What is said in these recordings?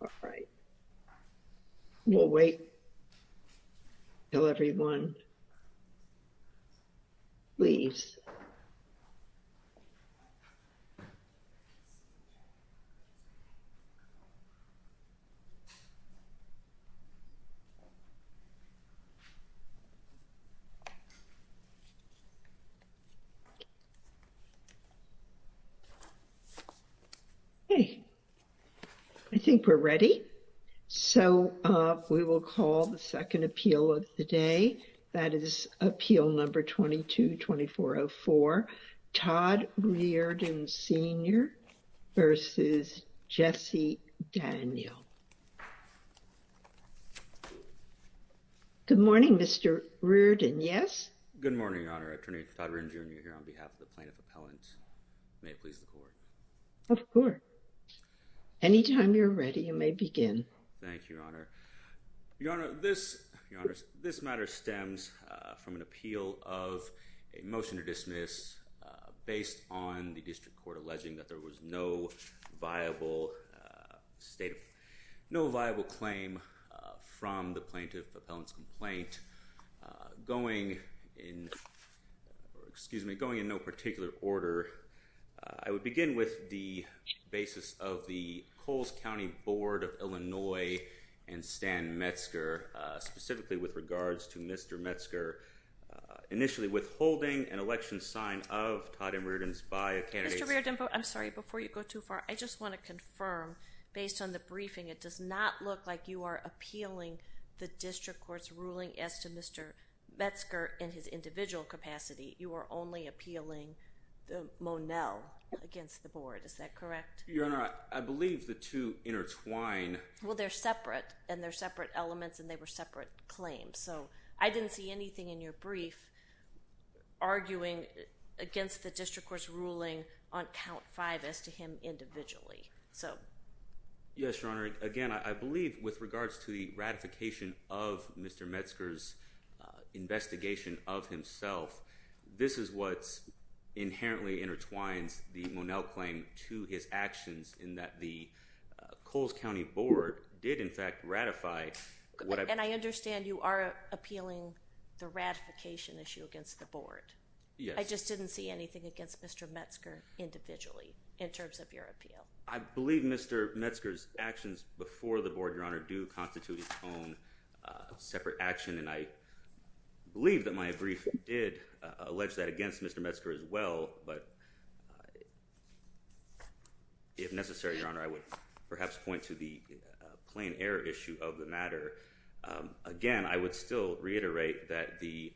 All right. We'll wait till everyone leaves. Okay. I think we're ready. So we will call the second appeal of the day. That is appeal number 22-2404, Todd Reardon, Sr. v. Jesse Daniel. Good morning, Mr. Reardon. Yes? Good morning, Your Honor. Attorney Todd Reardon, Jr. here on behalf of the Plaintiff Appellant. May it please the Court. Of course. Anytime you're ready, you may begin. Thank you, Your motion to dismiss based on the District Court alleging that there was no viable state of no viable claim from the Plaintiff Appellant's complaint going in, excuse me, going in no particular order. I would begin with the basis of the Coles County Board of Illinois and Stan Metzger, specifically with regards to Mr. Metzger initially withholding an election sign of Todd and Reardon's by a candidate. Mr. Reardon, I'm sorry, before you go too far, I just want to confirm, based on the briefing, it does not look like you are appealing the District Court's ruling as to Mr. Metzger in his individual capacity. You are only appealing the Monell against the Board. Is that correct? Your Honor, I believe the two intertwine. Well, they're separate and they're separate elements and they were separate claims. So I didn't see anything in your brief arguing against the District Court's ruling on count five as to him individually. So. Yes, Your Honor. Again, I believe with regards to the ratification of Mr. Metzger's investigation of himself, this is what inherently intertwines the Monell claim to his actions in that the Coles County Board did in fact ratify. And I understand you are appealing the ratification issue against the Board. Yes. I just didn't see anything against Mr. Metzger individually in terms of your appeal. I believe Mr. Metzger's actions before the Board, Your Honor, do constitute its own separate action and I believe that my brief did allege that against Mr. Metzger as well. But if necessary, Your Honor, I would perhaps point to the plain error issue of the matter. Again, I would still reiterate that the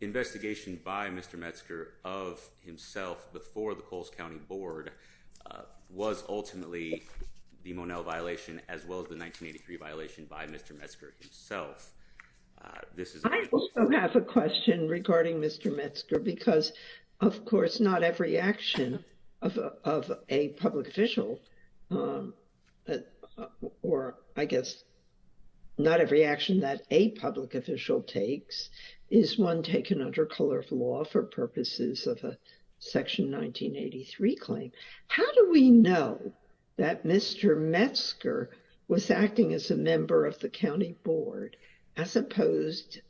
investigation by Mr. Metzger of himself before the Coles County Board was ultimately the Monell violation, as well as the 1983 violation by Mr. Metzger himself. This is I also have a question regarding Mr. Metzger because, of course, not every action of a public official or I guess not every action that a public official takes is one taken under color of law for purposes of a Section 1983 claim. How do we know that Mr. Metzger was acting as a member of the County Board as opposed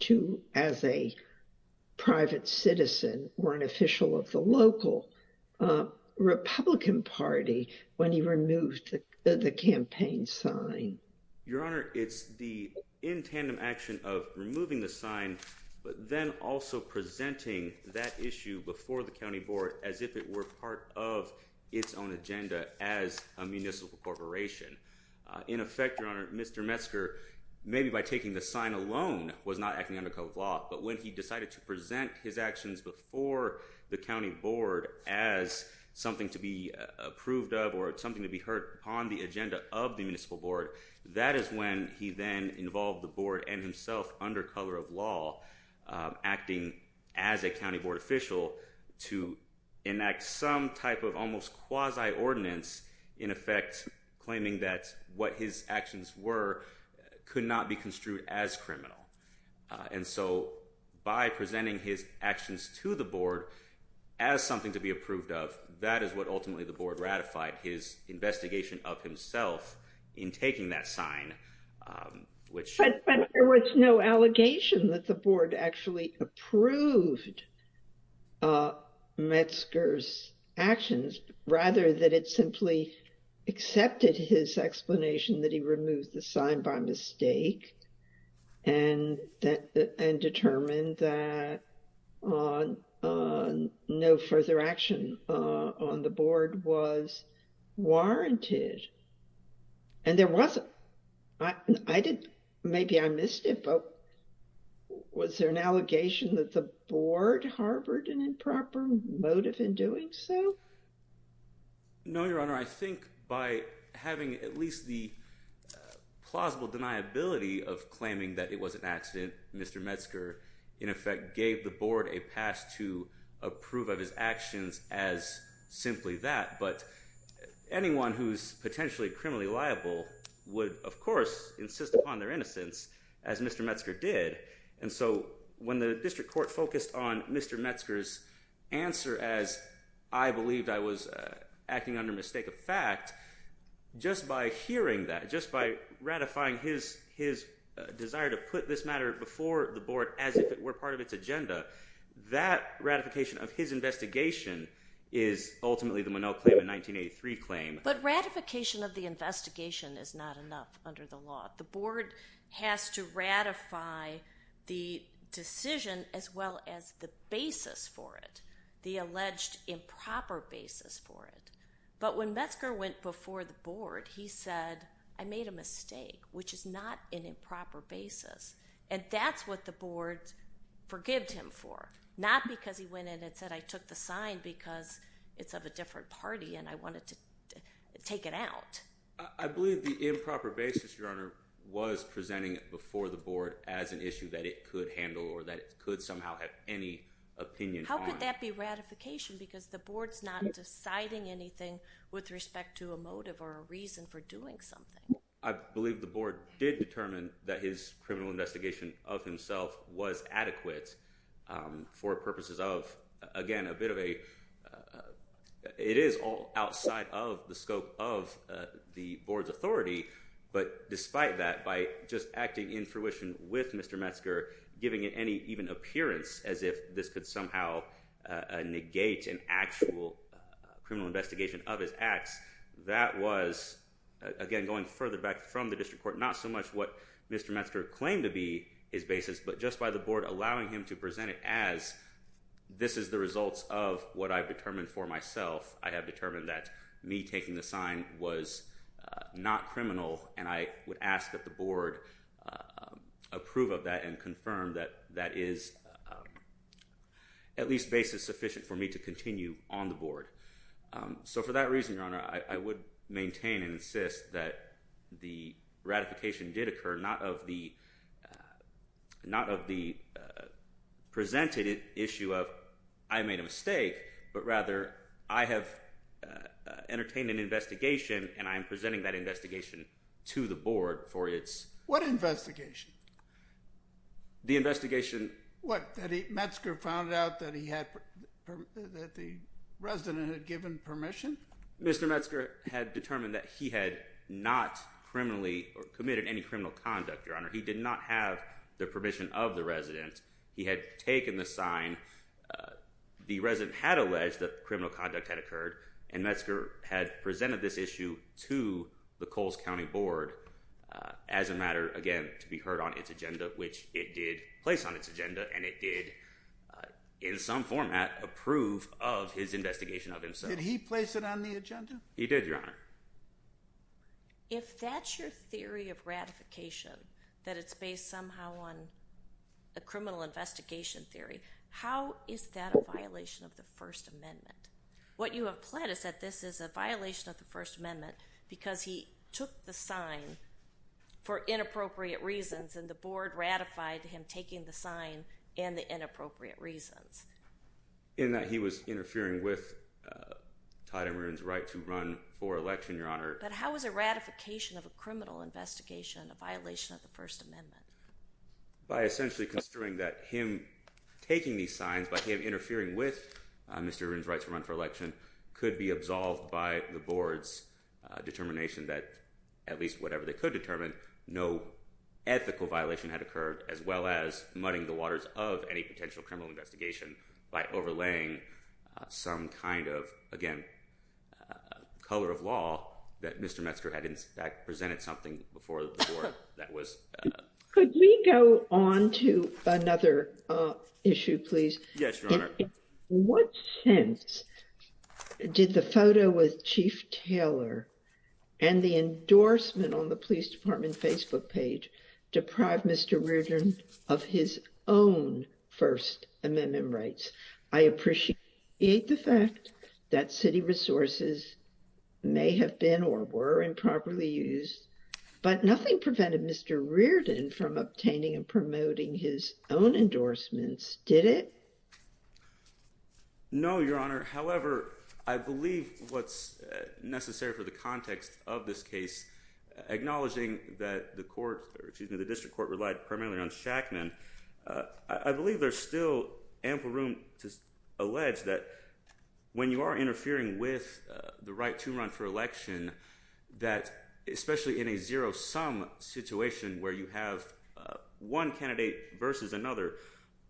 to as a private citizen or an official of the local Republican Party when he removed the campaign sign? Your Honor, it's the in tandem action of removing the sign but then also presenting that issue before the County Board as if it were part of its own agenda as a municipal corporation. In effect, Your Honor, Mr. Metzger, maybe by taking the sign alone, was not acting under color of law. But when he decided to present his actions before the County Board as something to be approved of or something to be heard on the agenda of the Municipal Board, that is when he then involved the Board and himself under color of law acting as a County Board official to enact some type of almost quasi-ordinance in effect claiming that what his actions were could not be construed as criminal. And so by presenting his actions to the Board as something to be approved of, that is what ultimately the Board ratified his investigation of himself in taking that sign. But there was no allegation that the Board actually approved Metzger's actions, rather that it simply accepted his explanation that he removed the sign by mistake and determined that no further action on the Board was warranted. And there wasn't. I didn't, maybe I missed it, but was there an allegation that the Board harbored an improper motive in doing so? No, Your Honor. I think by having at least the plausible deniability of claiming that it was an accident, Mr. Metzger in effect gave the Board a pass to approve of his of course insist upon their innocence as Mr. Metzger did. And so when the District Court focused on Mr. Metzger's answer as, I believed I was acting under mistake of fact, just by hearing that, just by ratifying his desire to put this matter before the Board as if it were part of its agenda, that ratification of his investigation is ultimately the Monell claim in 1983 claim. But ratification of the investigation is not enough under the law. The Board has to ratify the decision as well as the basis for it, the alleged improper basis for it. But when Metzger went before the Board, he said, I made a mistake, which is not an improper basis. And that's what the Board forgave him for, not because he went in and said, I took the sign because it's of a take it out. I believe the improper basis, Your Honor, was presenting it before the Board as an issue that it could handle or that it could somehow have any opinion. How could that be ratification? Because the Board's not deciding anything with respect to a motive or a reason for doing something. I believe the Board did determine that his criminal investigation of the Board's authority. But despite that, by just acting in fruition with Mr. Metzger, giving it any even appearance as if this could somehow negate an actual criminal investigation of his acts, that was, again, going further back from the district court, not so much what Mr. Metzger claimed to be his basis, but just by the Board allowing him to present it as this is the results of what I've determined for myself. I have determined that me taking the sign was not criminal, and I would ask that the Board approve of that and confirm that that is at least basis sufficient for me to continue on the Board. So for that reason, Your Honor, I would maintain and insist that the ratification did occur, not of the presented issue of I made a mistake, but rather I have entertained an investigation, and I am presenting that investigation to the Board for its... What investigation? The investigation... What, that Metzger found out that the resident had given permission? Mr. Metzger had determined that he had not criminally or committed any criminal conduct, Your Honor. He did not have the permission of the resident. He had taken the sign. The resident had alleged that criminal conduct had occurred, and Metzger had presented this issue to the Coles County Board as a matter, again, to be heard on its agenda, which it did place on its agenda, and it did, in some format, approve of his investigation of himself. Did he place it on the agenda? He did, Your Honor. If that's your theory of ratification, that it's based somehow on a criminal investigation theory, how is that a violation of the First Amendment? What you have pled is that this is a violation of the First Amendment because he took the sign for inappropriate reasons, and the Board ratified him taking the sign and the inappropriate reasons. In that he was interfering with Todd M. Rubin's right to run for election, Your Honor. But how is a ratification of a criminal investigation a violation of the First Amendment? By essentially construing that him taking these signs, by him interfering with Mr. Rubin's right to run for election, could be absolved by the Board's determination that, at least whatever they could determine, no ethical violation had of any potential criminal investigation by overlaying some kind of, again, color of law that Mr. Metzger had in fact presented something before the Board that was... Could we go on to another issue, please? Yes, Your Honor. In what sense did the photo with Chief Taylor and the endorsement on the Police Department Facebook page deprive Mr. Reardon of his own First Amendment rights? I appreciate the fact that city resources may have been or were improperly used, but nothing prevented Mr. Reardon from obtaining and promoting his own endorsements, did it? No, Your Honor. However, I believe what's necessary for the context of this fact then, I believe there's still ample room to allege that when you are interfering with the right to run for election, that especially in a zero-sum situation where you have one candidate versus another,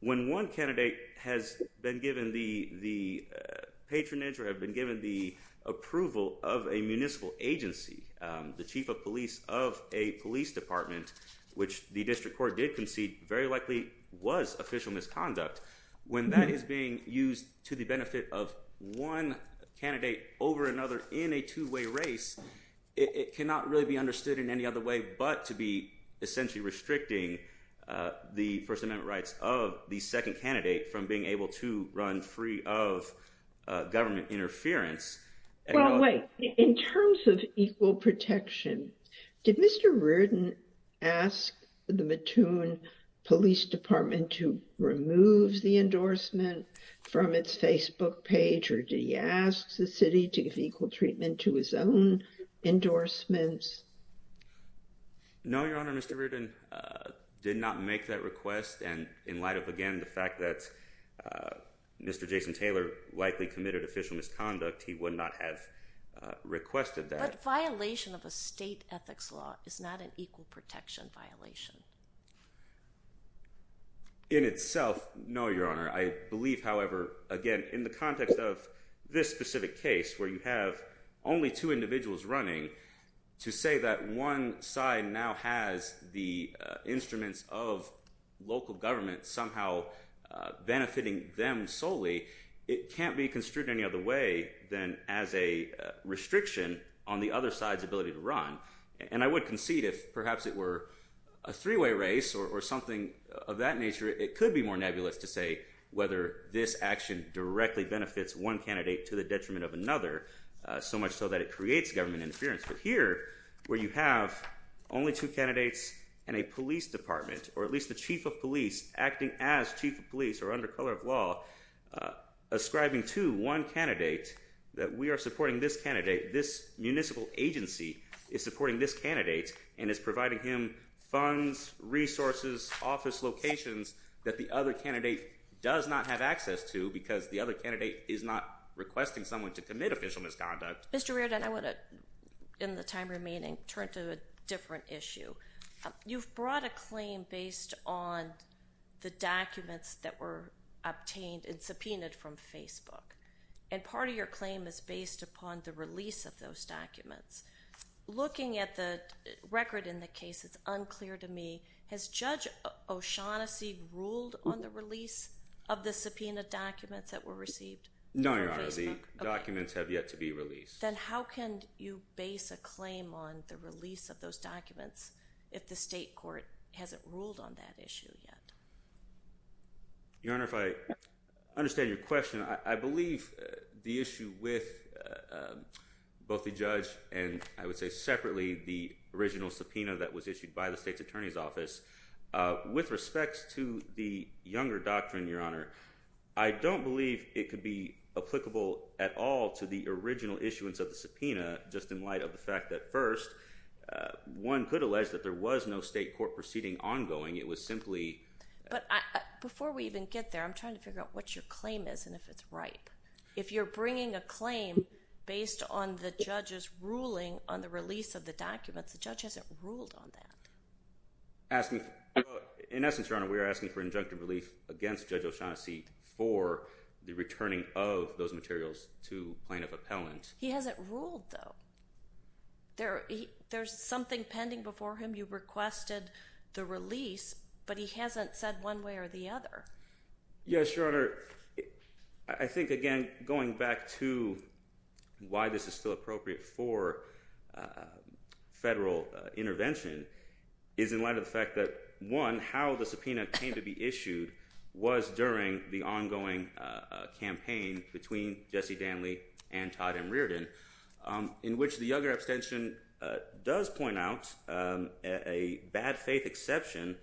when one candidate has been given the patronage or have been given the approval of a municipal agency, the chief of police of a police department, which the District Court did concede very likely was official misconduct. When that is being used to the benefit of one candidate over another in a two-way race, it cannot really be understood in any other way but to be essentially restricting the First Amendment rights of the second candidate from being able to run free of government interference. Well, wait. In terms of equal protection, did Mr. Reardon ask the Mattoon Police Department to remove the endorsement from its Facebook page or did he ask the city to give equal treatment to his own endorsements? No, Your Honor. Mr. Reardon did not make that request, and in light of, again, the fact that Mr. Jason Taylor likely committed official misconduct, he would not have requested that. But violation of a state ethics law is not an equal protection violation. In itself, no, Your Honor. I believe, however, again, in the context of this specific case where you have only two individuals running, to say that one side now has the instruments of local government somehow benefiting them solely, it can't be construed in any other way than as a restriction on the other side's ability to run. And I would concede if perhaps it were a three-way race or something of that nature, it could be more nebulous to say whether this action directly benefits one candidate to the detriment of another, so much so that it creates government interference. But here, where you have only two candidates and a police department, or at least the chief of police acting as chief of law ascribing to one candidate that we are supporting this candidate, this municipal agency is supporting this candidate, and is providing him funds, resources, office locations that the other candidate does not have access to because the other candidate is not requesting someone to commit official misconduct. Mr. Reardon, I want to, in the time remaining, turn to a issue. You've brought a claim based on the documents that were obtained and subpoenaed from Facebook, and part of your claim is based upon the release of those documents. Looking at the record in the case, it's unclear to me, has Judge O'Shaughnessy ruled on the release of the subpoenaed documents that were received? No, Your Honor. The documents have yet to be released. If the state court hasn't ruled on that issue yet. Your Honor, if I understand your question, I believe the issue with both the judge and, I would say, separately, the original subpoena that was issued by the state's attorney's office, with respects to the Younger Doctrine, Your Honor, I don't believe it could be applicable at all to the original issuance of the subpoena just in light of the fact that first, one could allege that there was no state court proceeding ongoing. It was simply... But before we even get there, I'm trying to figure out what your claim is and if it's ripe. If you're bringing a claim based on the judge's ruling on the release of the documents, the judge hasn't ruled on that. In essence, Your Honor, we are asking for injunctive relief against Judge O'Shaughnessy for the returning of those materials to plaintiff appellant. He hasn't ruled though. There's something pending before him. You requested the release, but he hasn't said one way or the other. Yes, Your Honor. I think, again, going back to why this is still appropriate for federal intervention is in light of the fact that, one, how the subpoena came to be issued was during the ongoing campaign between Jesse Danly and Todd M. Reardon in which the Younger abstention does point out a bad faith exception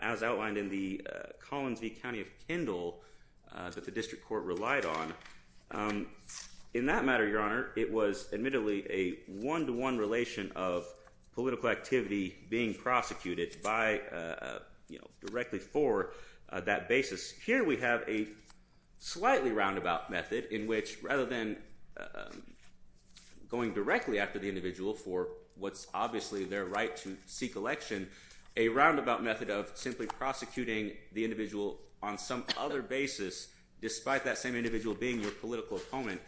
as outlined in the Collins v. County of Kendall that the district court relied on. In that matter, Your Honor, it was admittedly a one-to-one relation of political activity being prosecuted directly for that basis. Here we have a slightly roundabout method in which, rather than going directly after the individual for what's obviously their right to seek election, a roundabout method of simply prosecuting the individual on some other basis, despite that same individual being your political opponent,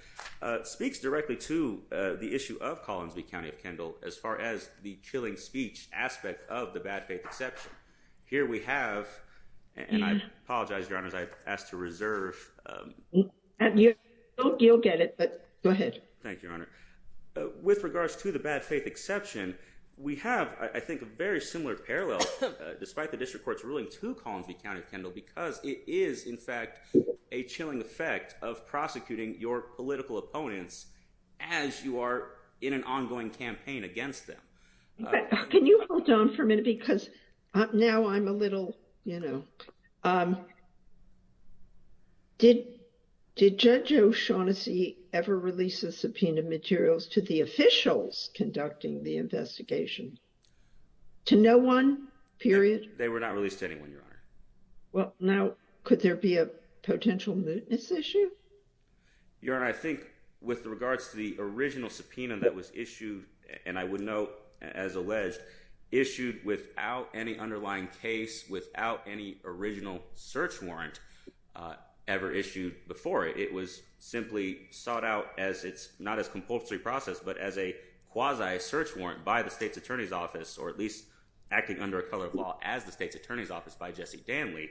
speaks directly to the issue of Collins v. County of Kendall as far as the killing speech aspect of the bad faith exception. Here we have, and I apologize, Your Honors, I've asked to reserve. You'll get it, but go ahead. Thank you, Your Honor. With regards to the bad faith exception, we have, I think, a very similar parallel, despite the district court's ruling to Collins v. County of Kendall, because it is, in fact, a chilling effect of prosecuting your political opponents as you are in an ongoing campaign against them. Can you hold on for a minute, because now I'm a little, you know, did Judge O'Shaughnessy ever release the subpoena materials to the officials conducting the investigation? To no one, period? They were not released to anyone, Your Honor. Well, now could there be a potential mootness issue? Your Honor, I think with regards to the original subpoena that was issued, and I would note, as alleged, issued without any underlying case, without any original search warrant ever issued before it, it was simply sought out as it's not as compulsory process, but as a quasi search warrant by the state's attorney's office, or at least acting under a color of law as the state's attorney's office by Jesse Danley.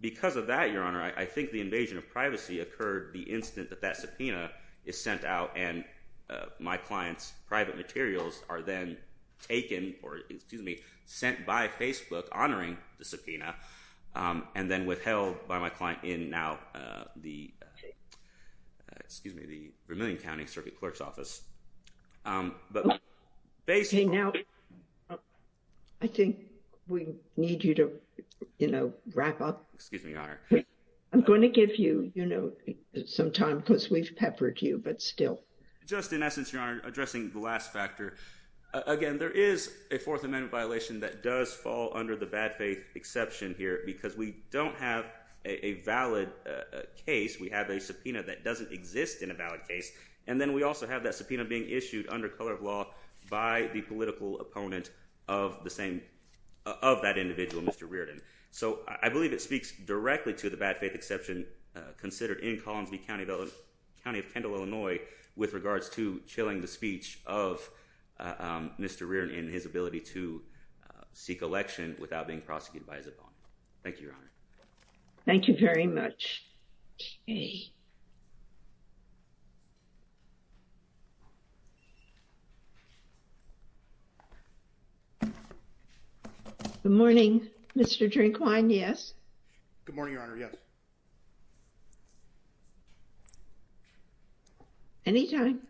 Because of that, Your Honor, I think the invasion of private materials are then taken, or excuse me, sent by Facebook honoring the subpoena, and then withheld by my client in now the, excuse me, the Vermilion County Circuit Clerk's Office. I think we need you to, you know, wrap up. Excuse me, Your Honor. I'm going to give you, you know, some time because we've peppered you, but still. Just in essence, Your Honor, addressing the last factor, again, there is a Fourth Amendment violation that does fall under the bad faith exception here because we don't have a valid case. We have a subpoena that doesn't exist in a valid case, and then we also have that subpoena being issued under color of law by the political opponent of the same, of that individual, Mr. Reardon. So I believe it speaks directly to the bad faith exception considered in Collinsville County of Kendall, Illinois, with regards to chilling the speech of Mr. Reardon and his ability to seek election without being prosecuted by his opponent. Thank you, Your Honor. Thank you very much. Okay. Good morning, Mr. Drinkwine. Yes. Good morning, Your Honor. Yes. Anytime.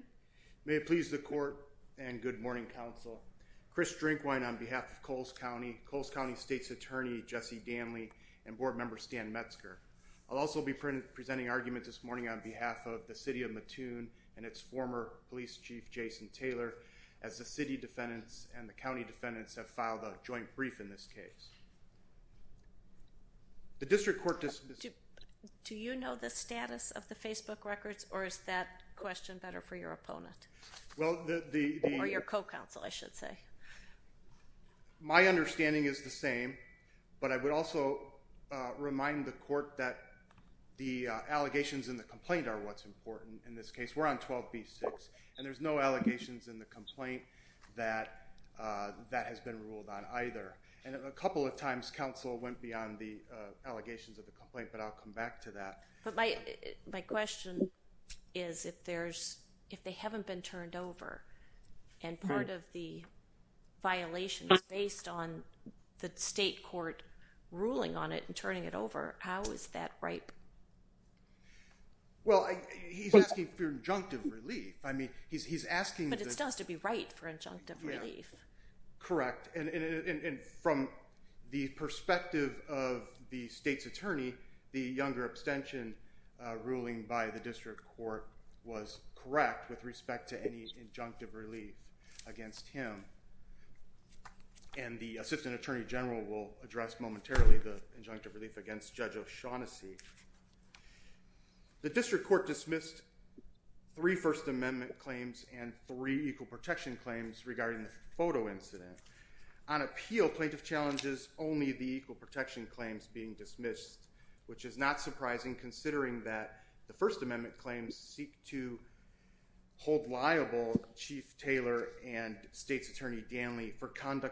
May it please the court and good morning, counsel. Chris Drinkwine on behalf of Coles County, Coles County State's Attorney, Jesse Danley, and Board Member Stan Metzger. I'll also be presenting argument this morning on behalf of the city of Mattoon and its former police chief, Jason Taylor, as the city defendants and the county defendants have filed a joint brief in this case. The district court... Do you know the status of the Facebook records or is that question better for your opponent? Well, the... Or your co-counsel, I should say. My understanding is the same, but I would also remind the court that the allegations in the complaint are what's important in this case. We're on 12B6 and there's no allegations in the complaint that that has been ruled on either. And a couple of times, counsel went beyond the allegations of the complaint, but I'll come back to that. But my question is if there's... If they violation is based on the state court ruling on it and turning it over, how is that ripe? Well, he's asking for injunctive relief. I mean, he's asking... But it still has to be right for injunctive relief. Correct. And from the perspective of the state's attorney, the younger abstention ruling by the district court, and the assistant attorney general will address momentarily the injunctive relief against Judge O'Shaughnessy. The district court dismissed three First Amendment claims and three equal protection claims regarding the photo incident. On appeal, plaintiff challenges only the equal protection claims being dismissed, which is not surprising considering that the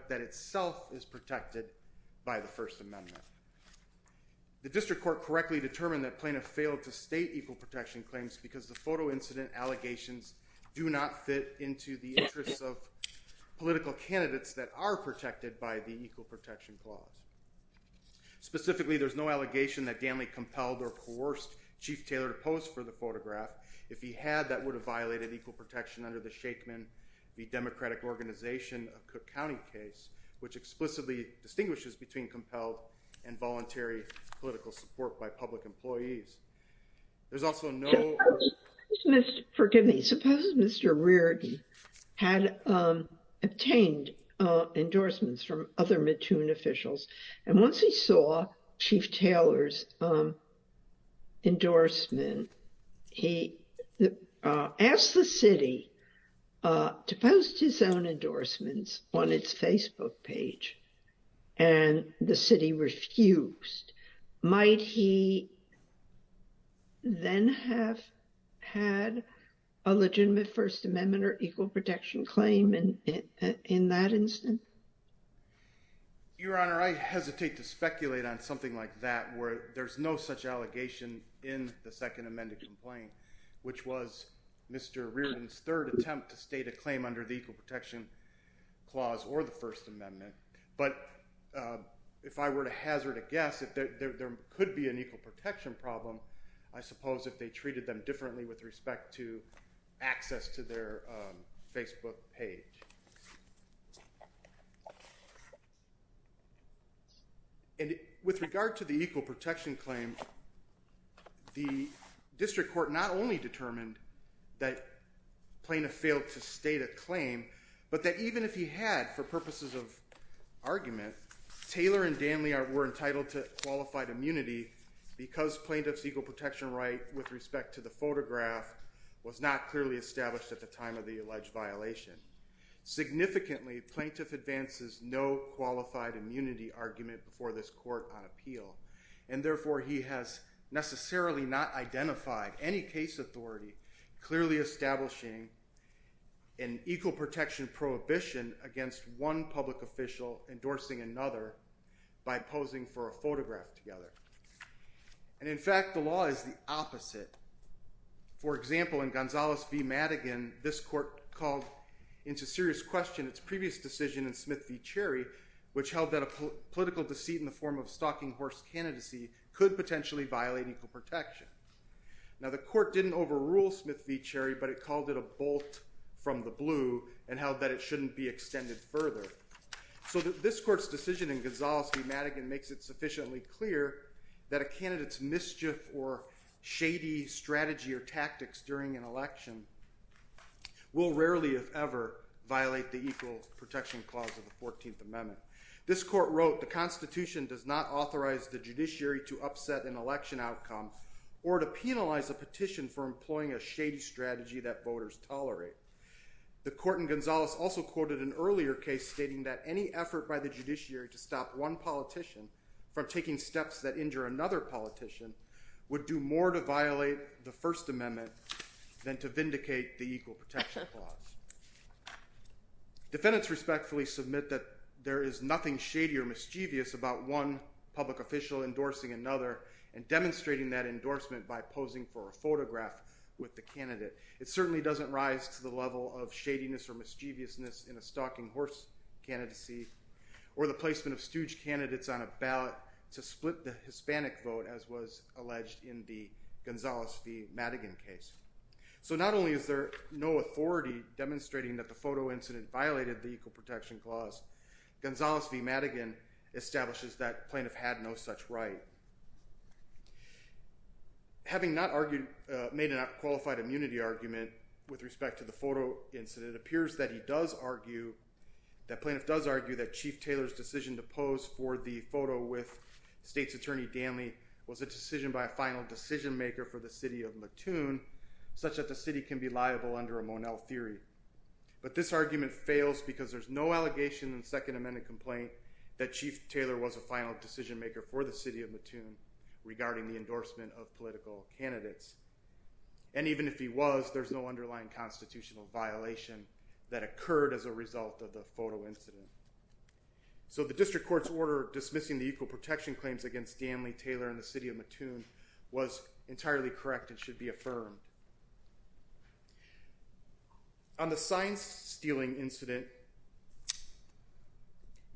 that itself is protected by the First Amendment. The district court correctly determined that plaintiff failed to state equal protection claims because the photo incident allegations do not fit into the interests of political candidates that are protected by the equal protection clause. Specifically, there's no allegation that Danley compelled or coerced Chief Taylor to pose for the photograph. If he had, that would have violated equal protection under the Shakeman v. Democratic Organization of Cook County case, which explicitly distinguishes between compelled and voluntary political support by public employees. There's also no... Forgive me. Suppose Mr. Reardon had obtained endorsements from other Mattoon officials, and once he saw Chief Taylor's endorsement, he asked the city to post his own endorsements on its Facebook page, and the city refused. Might he then have had a legitimate First Amendment or I hesitate to speculate on something like that where there's no such allegation in the second amended complaint, which was Mr. Reardon's third attempt to state a claim under the equal protection clause or the First Amendment, but if I were to hazard a guess, there could be an equal protection problem, I suppose, if they treated them differently with respect to access to their Facebook page. And with regard to the equal protection claim, the district court not only determined that Plaintiff failed to state a claim, but that even if he had, for purposes of argument, Taylor and Danley were entitled to was not clearly established at the time of the alleged violation. Significantly, Plaintiff advances no qualified immunity argument before this court on appeal, and therefore he has necessarily not identified any case authority clearly establishing an equal protection prohibition against one public official endorsing another by posing for a photograph together. And in fact, the law is the opposite. For example, in Gonzales v. Madigan, this court called into serious question its previous decision in Smith v. Cherry, which held that a political deceit in the form of stalking horse candidacy could potentially violate equal protection. Now the court didn't overrule Smith v. Cherry, but it called it a bolt from the blue and held that it shouldn't be extended further. So this court's decision in Gonzales v. Madigan makes it sufficiently clear that a candidate's mischief or shady strategy or tactics during an election will rarely, if ever, violate the equal protection clause of the 14th Amendment. This court wrote, the Constitution does not authorize the judiciary to upset an election outcome or to penalize a petition for employing a shady strategy that voters tolerate. The court in Gonzales also quoted an earlier case stating that any effort by the judiciary to stop one politician from taking steps that injure another politician would do more to violate the First Amendment than to vindicate the equal protection clause. Defendants respectfully submit that there is nothing shady or mischievous about one public official endorsing another and demonstrating that endorsement by posing for a photograph with the candidate. It certainly doesn't rise to the level of shadiness or mischievousness in a stalking horse candidacy or the placement of stooge candidates on a ballot to split the Hispanic vote as was alleged in the Gonzales v. Madigan case. So not only is there no authority demonstrating that the photo incident violated the equal protection clause, Gonzales v. Madigan establishes that plaintiff had no such right. Having not made a qualified immunity argument with respect to the photo incident, it appears that he does argue that plaintiff does argue that Chief Taylor's decision to pose for the photo with state's attorney Danley was a decision by a final decision maker for the city of Mattoon such that the city can be liable under a Monell theory. But this argument fails because there's no allegation in the Second Amendment complaint that Chief Taylor was a final decision maker for the city of Mattoon regarding the endorsement of political candidates. And even if he was, there's no underlying constitutional violation that occurred as a result of the photo incident. So the district court's order dismissing the equal protection claims against Danley, Taylor, and the city of Mattoon was entirely correct and should be affirmed. On the sign-stealing incident,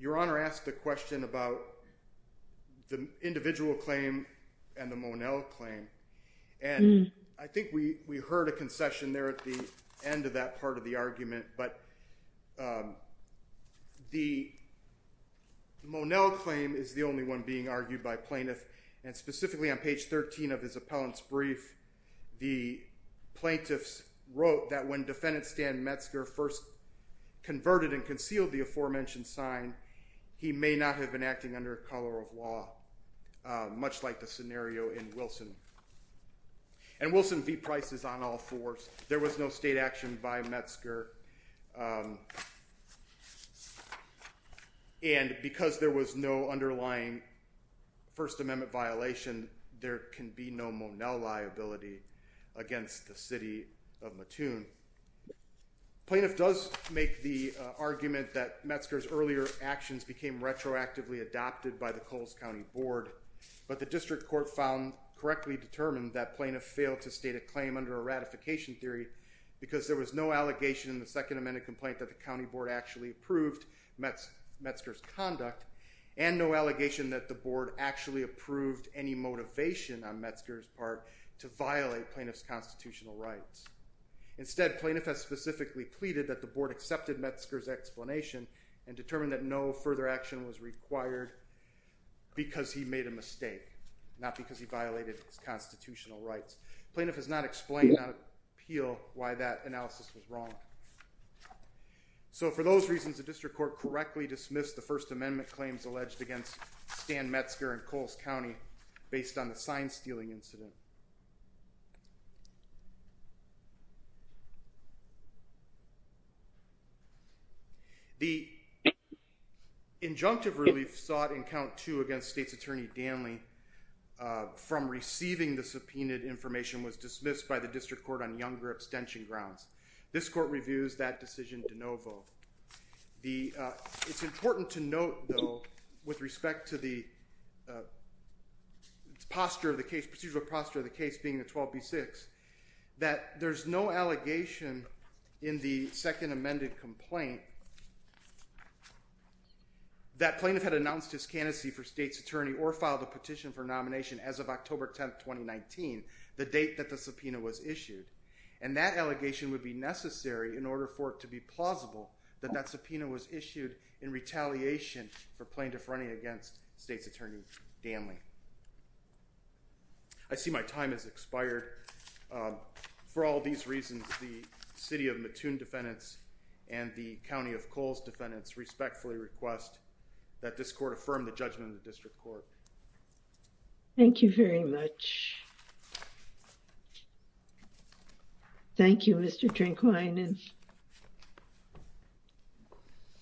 Your Honor asked the question about the individual claim and the Monell claim. And I think we heard a concession there at the end of that part of the argument, but the Monell claim is the only one being argued by plaintiff. And specifically on page 13 of his appellant's brief, the plaintiffs wrote that when defendant Stan Metzger first converted and concealed the aforementioned sign, he may not have been acting under color of law, much like the scenario in Wilson. And Wilson beat prices on all fours. There was no state action by Metzger. And because there was no underlying First Amendment violation, there can be no Monell liability against the city of Mattoon. Plaintiff does make the argument that adopted by the Coles County Board. But the district court found correctly determined that plaintiff failed to state a claim under a ratification theory because there was no allegation in the Second Amendment complaint that the county board actually approved Metzger's conduct and no allegation that the board actually approved any motivation on Metzger's part to violate plaintiff's constitutional rights. Instead, plaintiff has specifically pleaded that the board further action was required because he made a mistake, not because he violated his constitutional rights. Plaintiff has not explained on appeal why that analysis was wrong. So for those reasons, the district court correctly dismissed the First Amendment claims alleged against Stan Metzger and Coles County based on the sign stealing incident. The injunctive relief sought in count two against state's attorney Danley from receiving the subpoenaed information was dismissed by the district court on younger abstention grounds. This court reviews that decision de novo. It's important to note, though, with respect to the procedural posture of the case being the 12B6, that there's no allegation in the Second Amendment complaint that plaintiff had announced his candidacy for state's attorney or filed a petition for nomination as of October 10th, 2019, the date that the subpoena was issued. And that allegation would be necessary in order for it to be plausible that that subpoena was I see my time has expired. For all these reasons, the city of Mattoon defendants and the county of Coles defendants respectfully request that this court affirm the judgment of the district court. Thank you very much. Thank you, Mr. Drinkwine and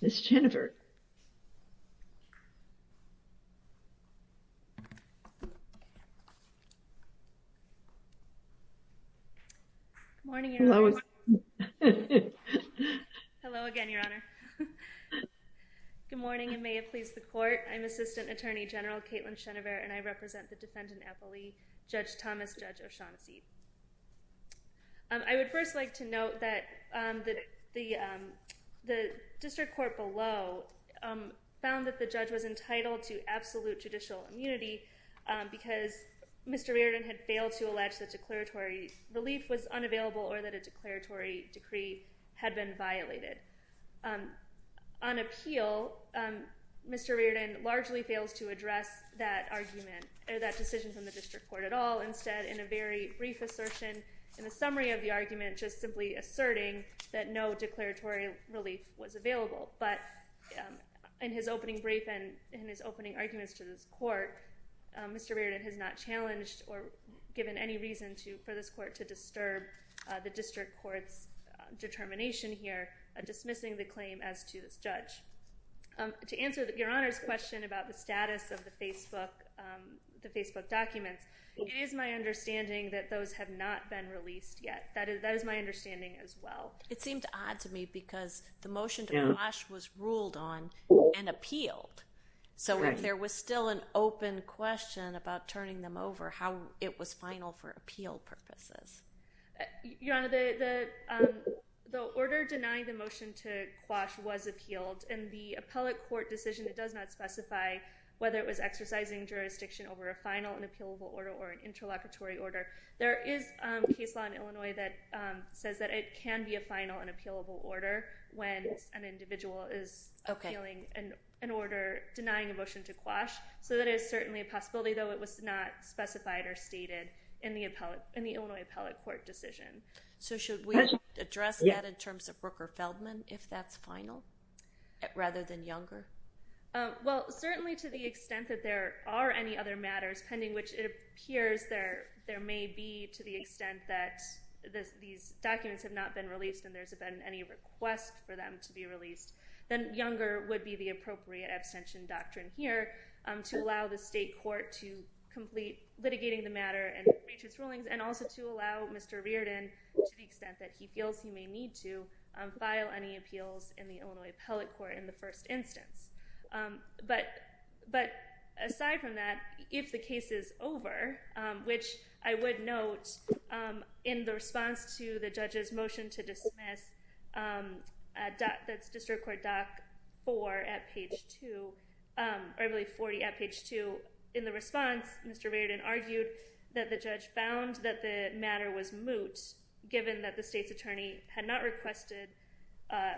Ms. Schoenever. Good morning, Your Honor. Hello again, Your Honor. Good morning and may it please the court. I'm Assistant Attorney General Kaitlyn Schoenever and I represent the defendant appellee, Judge Thomas Judge O'Shaughnessy. I would first like to note that the district court below found that the judge was entitled to absolute judicial immunity because Mr. Riordan had failed to allege that declaratory relief was unavailable or that a declaratory decree had been violated. On appeal, Mr. Riordan largely fails to address that argument or that decision from the district court at all. Instead, in a very brief assertion in the summary of the argument, just simply asserting that no declaratory relief was available. But in his opening brief and in his opening arguments to this court, Mr. Riordan has not challenged or given any reason to for this court to disturb the district court's determination here dismissing the claim as to this judge. To answer the Your Honor's question about the status of the Facebook documents, it is my understanding that those have not been released yet. That is my understanding as well. It seemed odd to me because the motion to quash was ruled on and appealed. So if there was still an open question about turning them over, how it was final for appeal purposes. Your Honor, the order denying the motion to quash was appealed and the appellate court decision that does not specify whether it is an appealable order or an interlocutory order. There is case law in Illinois that says that it can be a final and appealable order when an individual is appealing an order denying a motion to quash. So that is certainly a possibility, though it was not specified or stated in the Illinois appellate court decision. So should we address that in terms of Rooker Feldman if that's final rather than Younger? Well, certainly to the extent that there are any other matters pending, which it appears there may be to the extent that these documents have not been released and there's been any request for them to be released, then Younger would be the appropriate abstention doctrine here to allow the state court to complete litigating the matter and matrix rulings and also to allow Mr. Reardon, to the extent that he feels he may need to, file any appeals in the Illinois appellate court in the first instance. But aside from that, if the case is over, which I would note in the response to the judge's motion to dismiss, that's district court doc 4 at page 2, or I believe 40 at page 2. In the response, Mr. Reardon argued that the judge found that the given that the state's attorney had not requested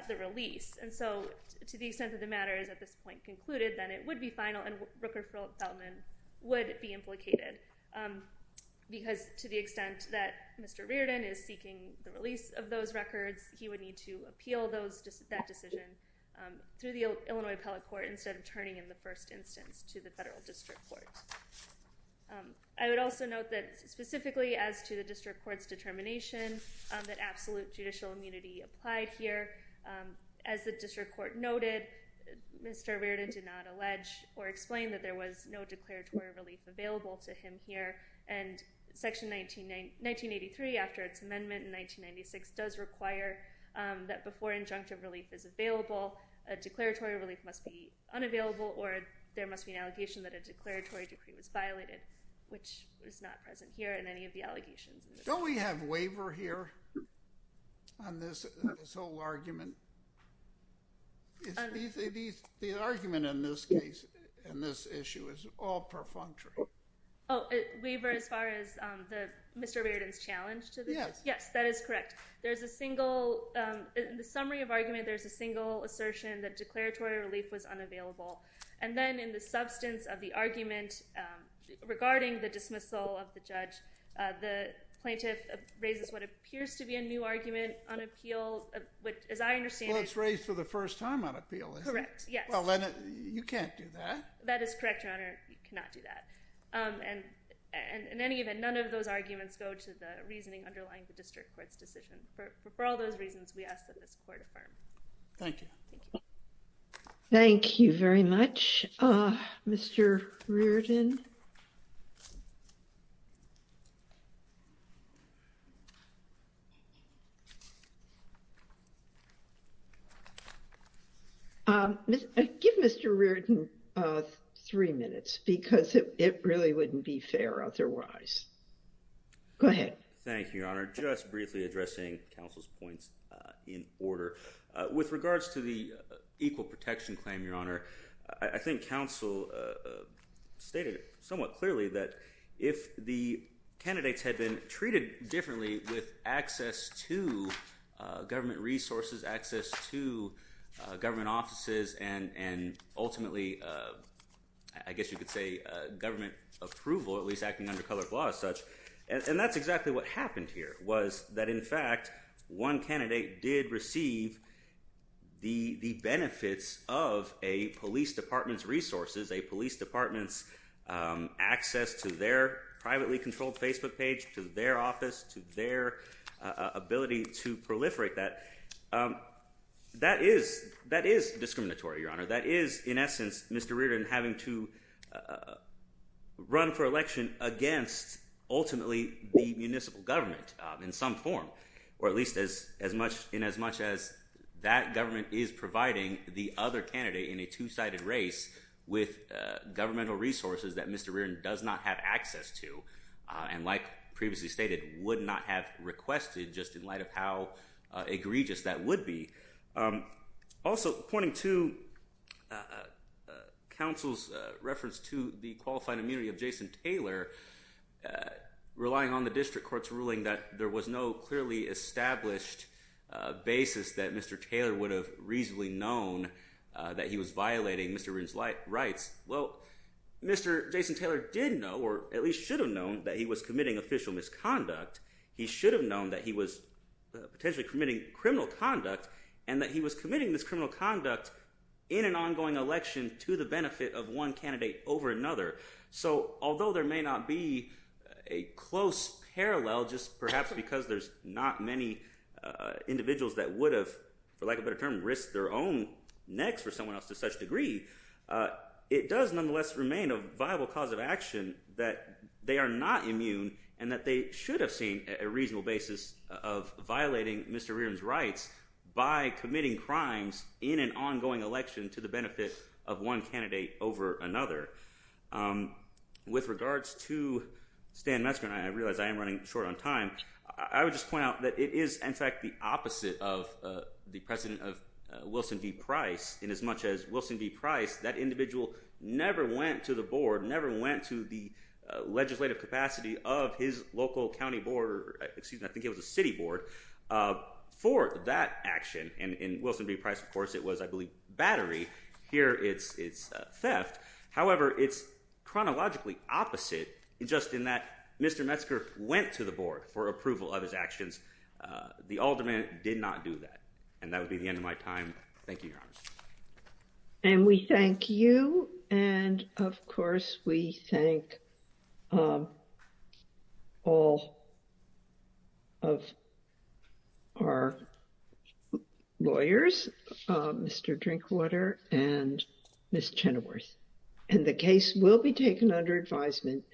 the release. And so to the extent that the matter is at this point concluded, then it would be final and Rooker Feldman would be implicated because to the extent that Mr. Reardon is seeking the release of those records, he would need to appeal that decision through the Illinois appellate court instead of turning in the first instance to the federal district court. I would also note that specifically as to the determination that absolute judicial immunity applied here, as the district court noted, Mr. Reardon did not allege or explain that there was no declaratory relief available to him here. And section 1983 after its amendment in 1996 does require that before injunctive relief is available, a declaratory relief must be unavailable or there must be an allegation that a declaratory decree was violated, which was not present here in any of the allegations. Don't we have waiver here on this, this whole argument? The argument in this case, in this issue is all perfunctory. Oh, waiver as far as the Mr. Reardon's challenge to this? Yes. Yes, that is correct. There's a single, in the summary of argument, there's a single assertion that declaratory relief was regarding the dismissal of the judge. The plaintiff raises what appears to be a new argument on appeal, which as I understand, it's raised for the first time on appeal. Correct. Yes. Well, you can't do that. That is correct, your honor. You cannot do that. And in any event, none of those arguments go to the reasoning underlying the district court's decision. For all those reasons, we ask that this court affirm. Thank you. Thank you. Thank you very much, Mr. Reardon. Give Mr. Reardon three minutes because it really wouldn't be fair otherwise. Go ahead. Thank you, your honor. Just briefly addressing counsel's points in order. With regards to the equal protection claim, your honor, I think counsel stated somewhat clearly that if the candidates had been treated differently with access to government resources, access to government offices, and ultimately, I guess you could say government approval, at least acting under colored law as such. And that's exactly what happened here, was that in fact, one candidate did receive the benefits of a police department's resources, a police department's access to their privately controlled Facebook page, to their office, to their ability to proliferate that. That is discriminatory, your honor. That is, in essence, Mr. Reardon having to run for election against ultimately the municipal government in some form, or at least in as much as that government is providing the other candidate in a two-sided race with governmental resources that Mr. Reardon does not have access to, and like previously stated, would not have requested just in light of how egregious that would be. Also, pointing to counsel's reference to the qualified immunity of Jason Taylor, relying on the district court's ruling that there was no clearly established basis that Mr. Taylor would have reasonably known that he was violating Mr. Reardon's rights. Well, Mr. Jason Taylor did know, or at least should have known, that he was committing official misconduct. He should have known that he was potentially committing criminal conduct, and that he was committing this criminal conduct in an ongoing election to the benefit of one So, although there may not be a close parallel, just perhaps because there's not many individuals that would have, for lack of a better term, risked their own necks for someone else to such degree, it does nonetheless remain a viable cause of action that they are not immune and that they should have seen a reasonable basis of violating Mr. Reardon's rights by committing crimes in an ongoing election to the benefit of one candidate over another. With regards to Stan Metzger, and I realize I am running short on time, I would just point out that it is in fact the opposite of the president of Wilson v. Price in as much as Wilson v. Price, that individual never went to the board, never went to the legislative capacity of his local county board, excuse me, I think it was a city board, for that action. And in Wilson v. Price, of course, it was, I believe, battery. Here it's theft. However, it's chronologically opposite, just in that Mr. Metzger went to the board for approval of his actions. The alderman did not do that. And that would be the end of my time. Thank you, Your Honor. And we thank you. And of course, we thank all of our lawyers, Mr. Drinkwater and Ms. Chenoweth. And the case will be taken under advisement.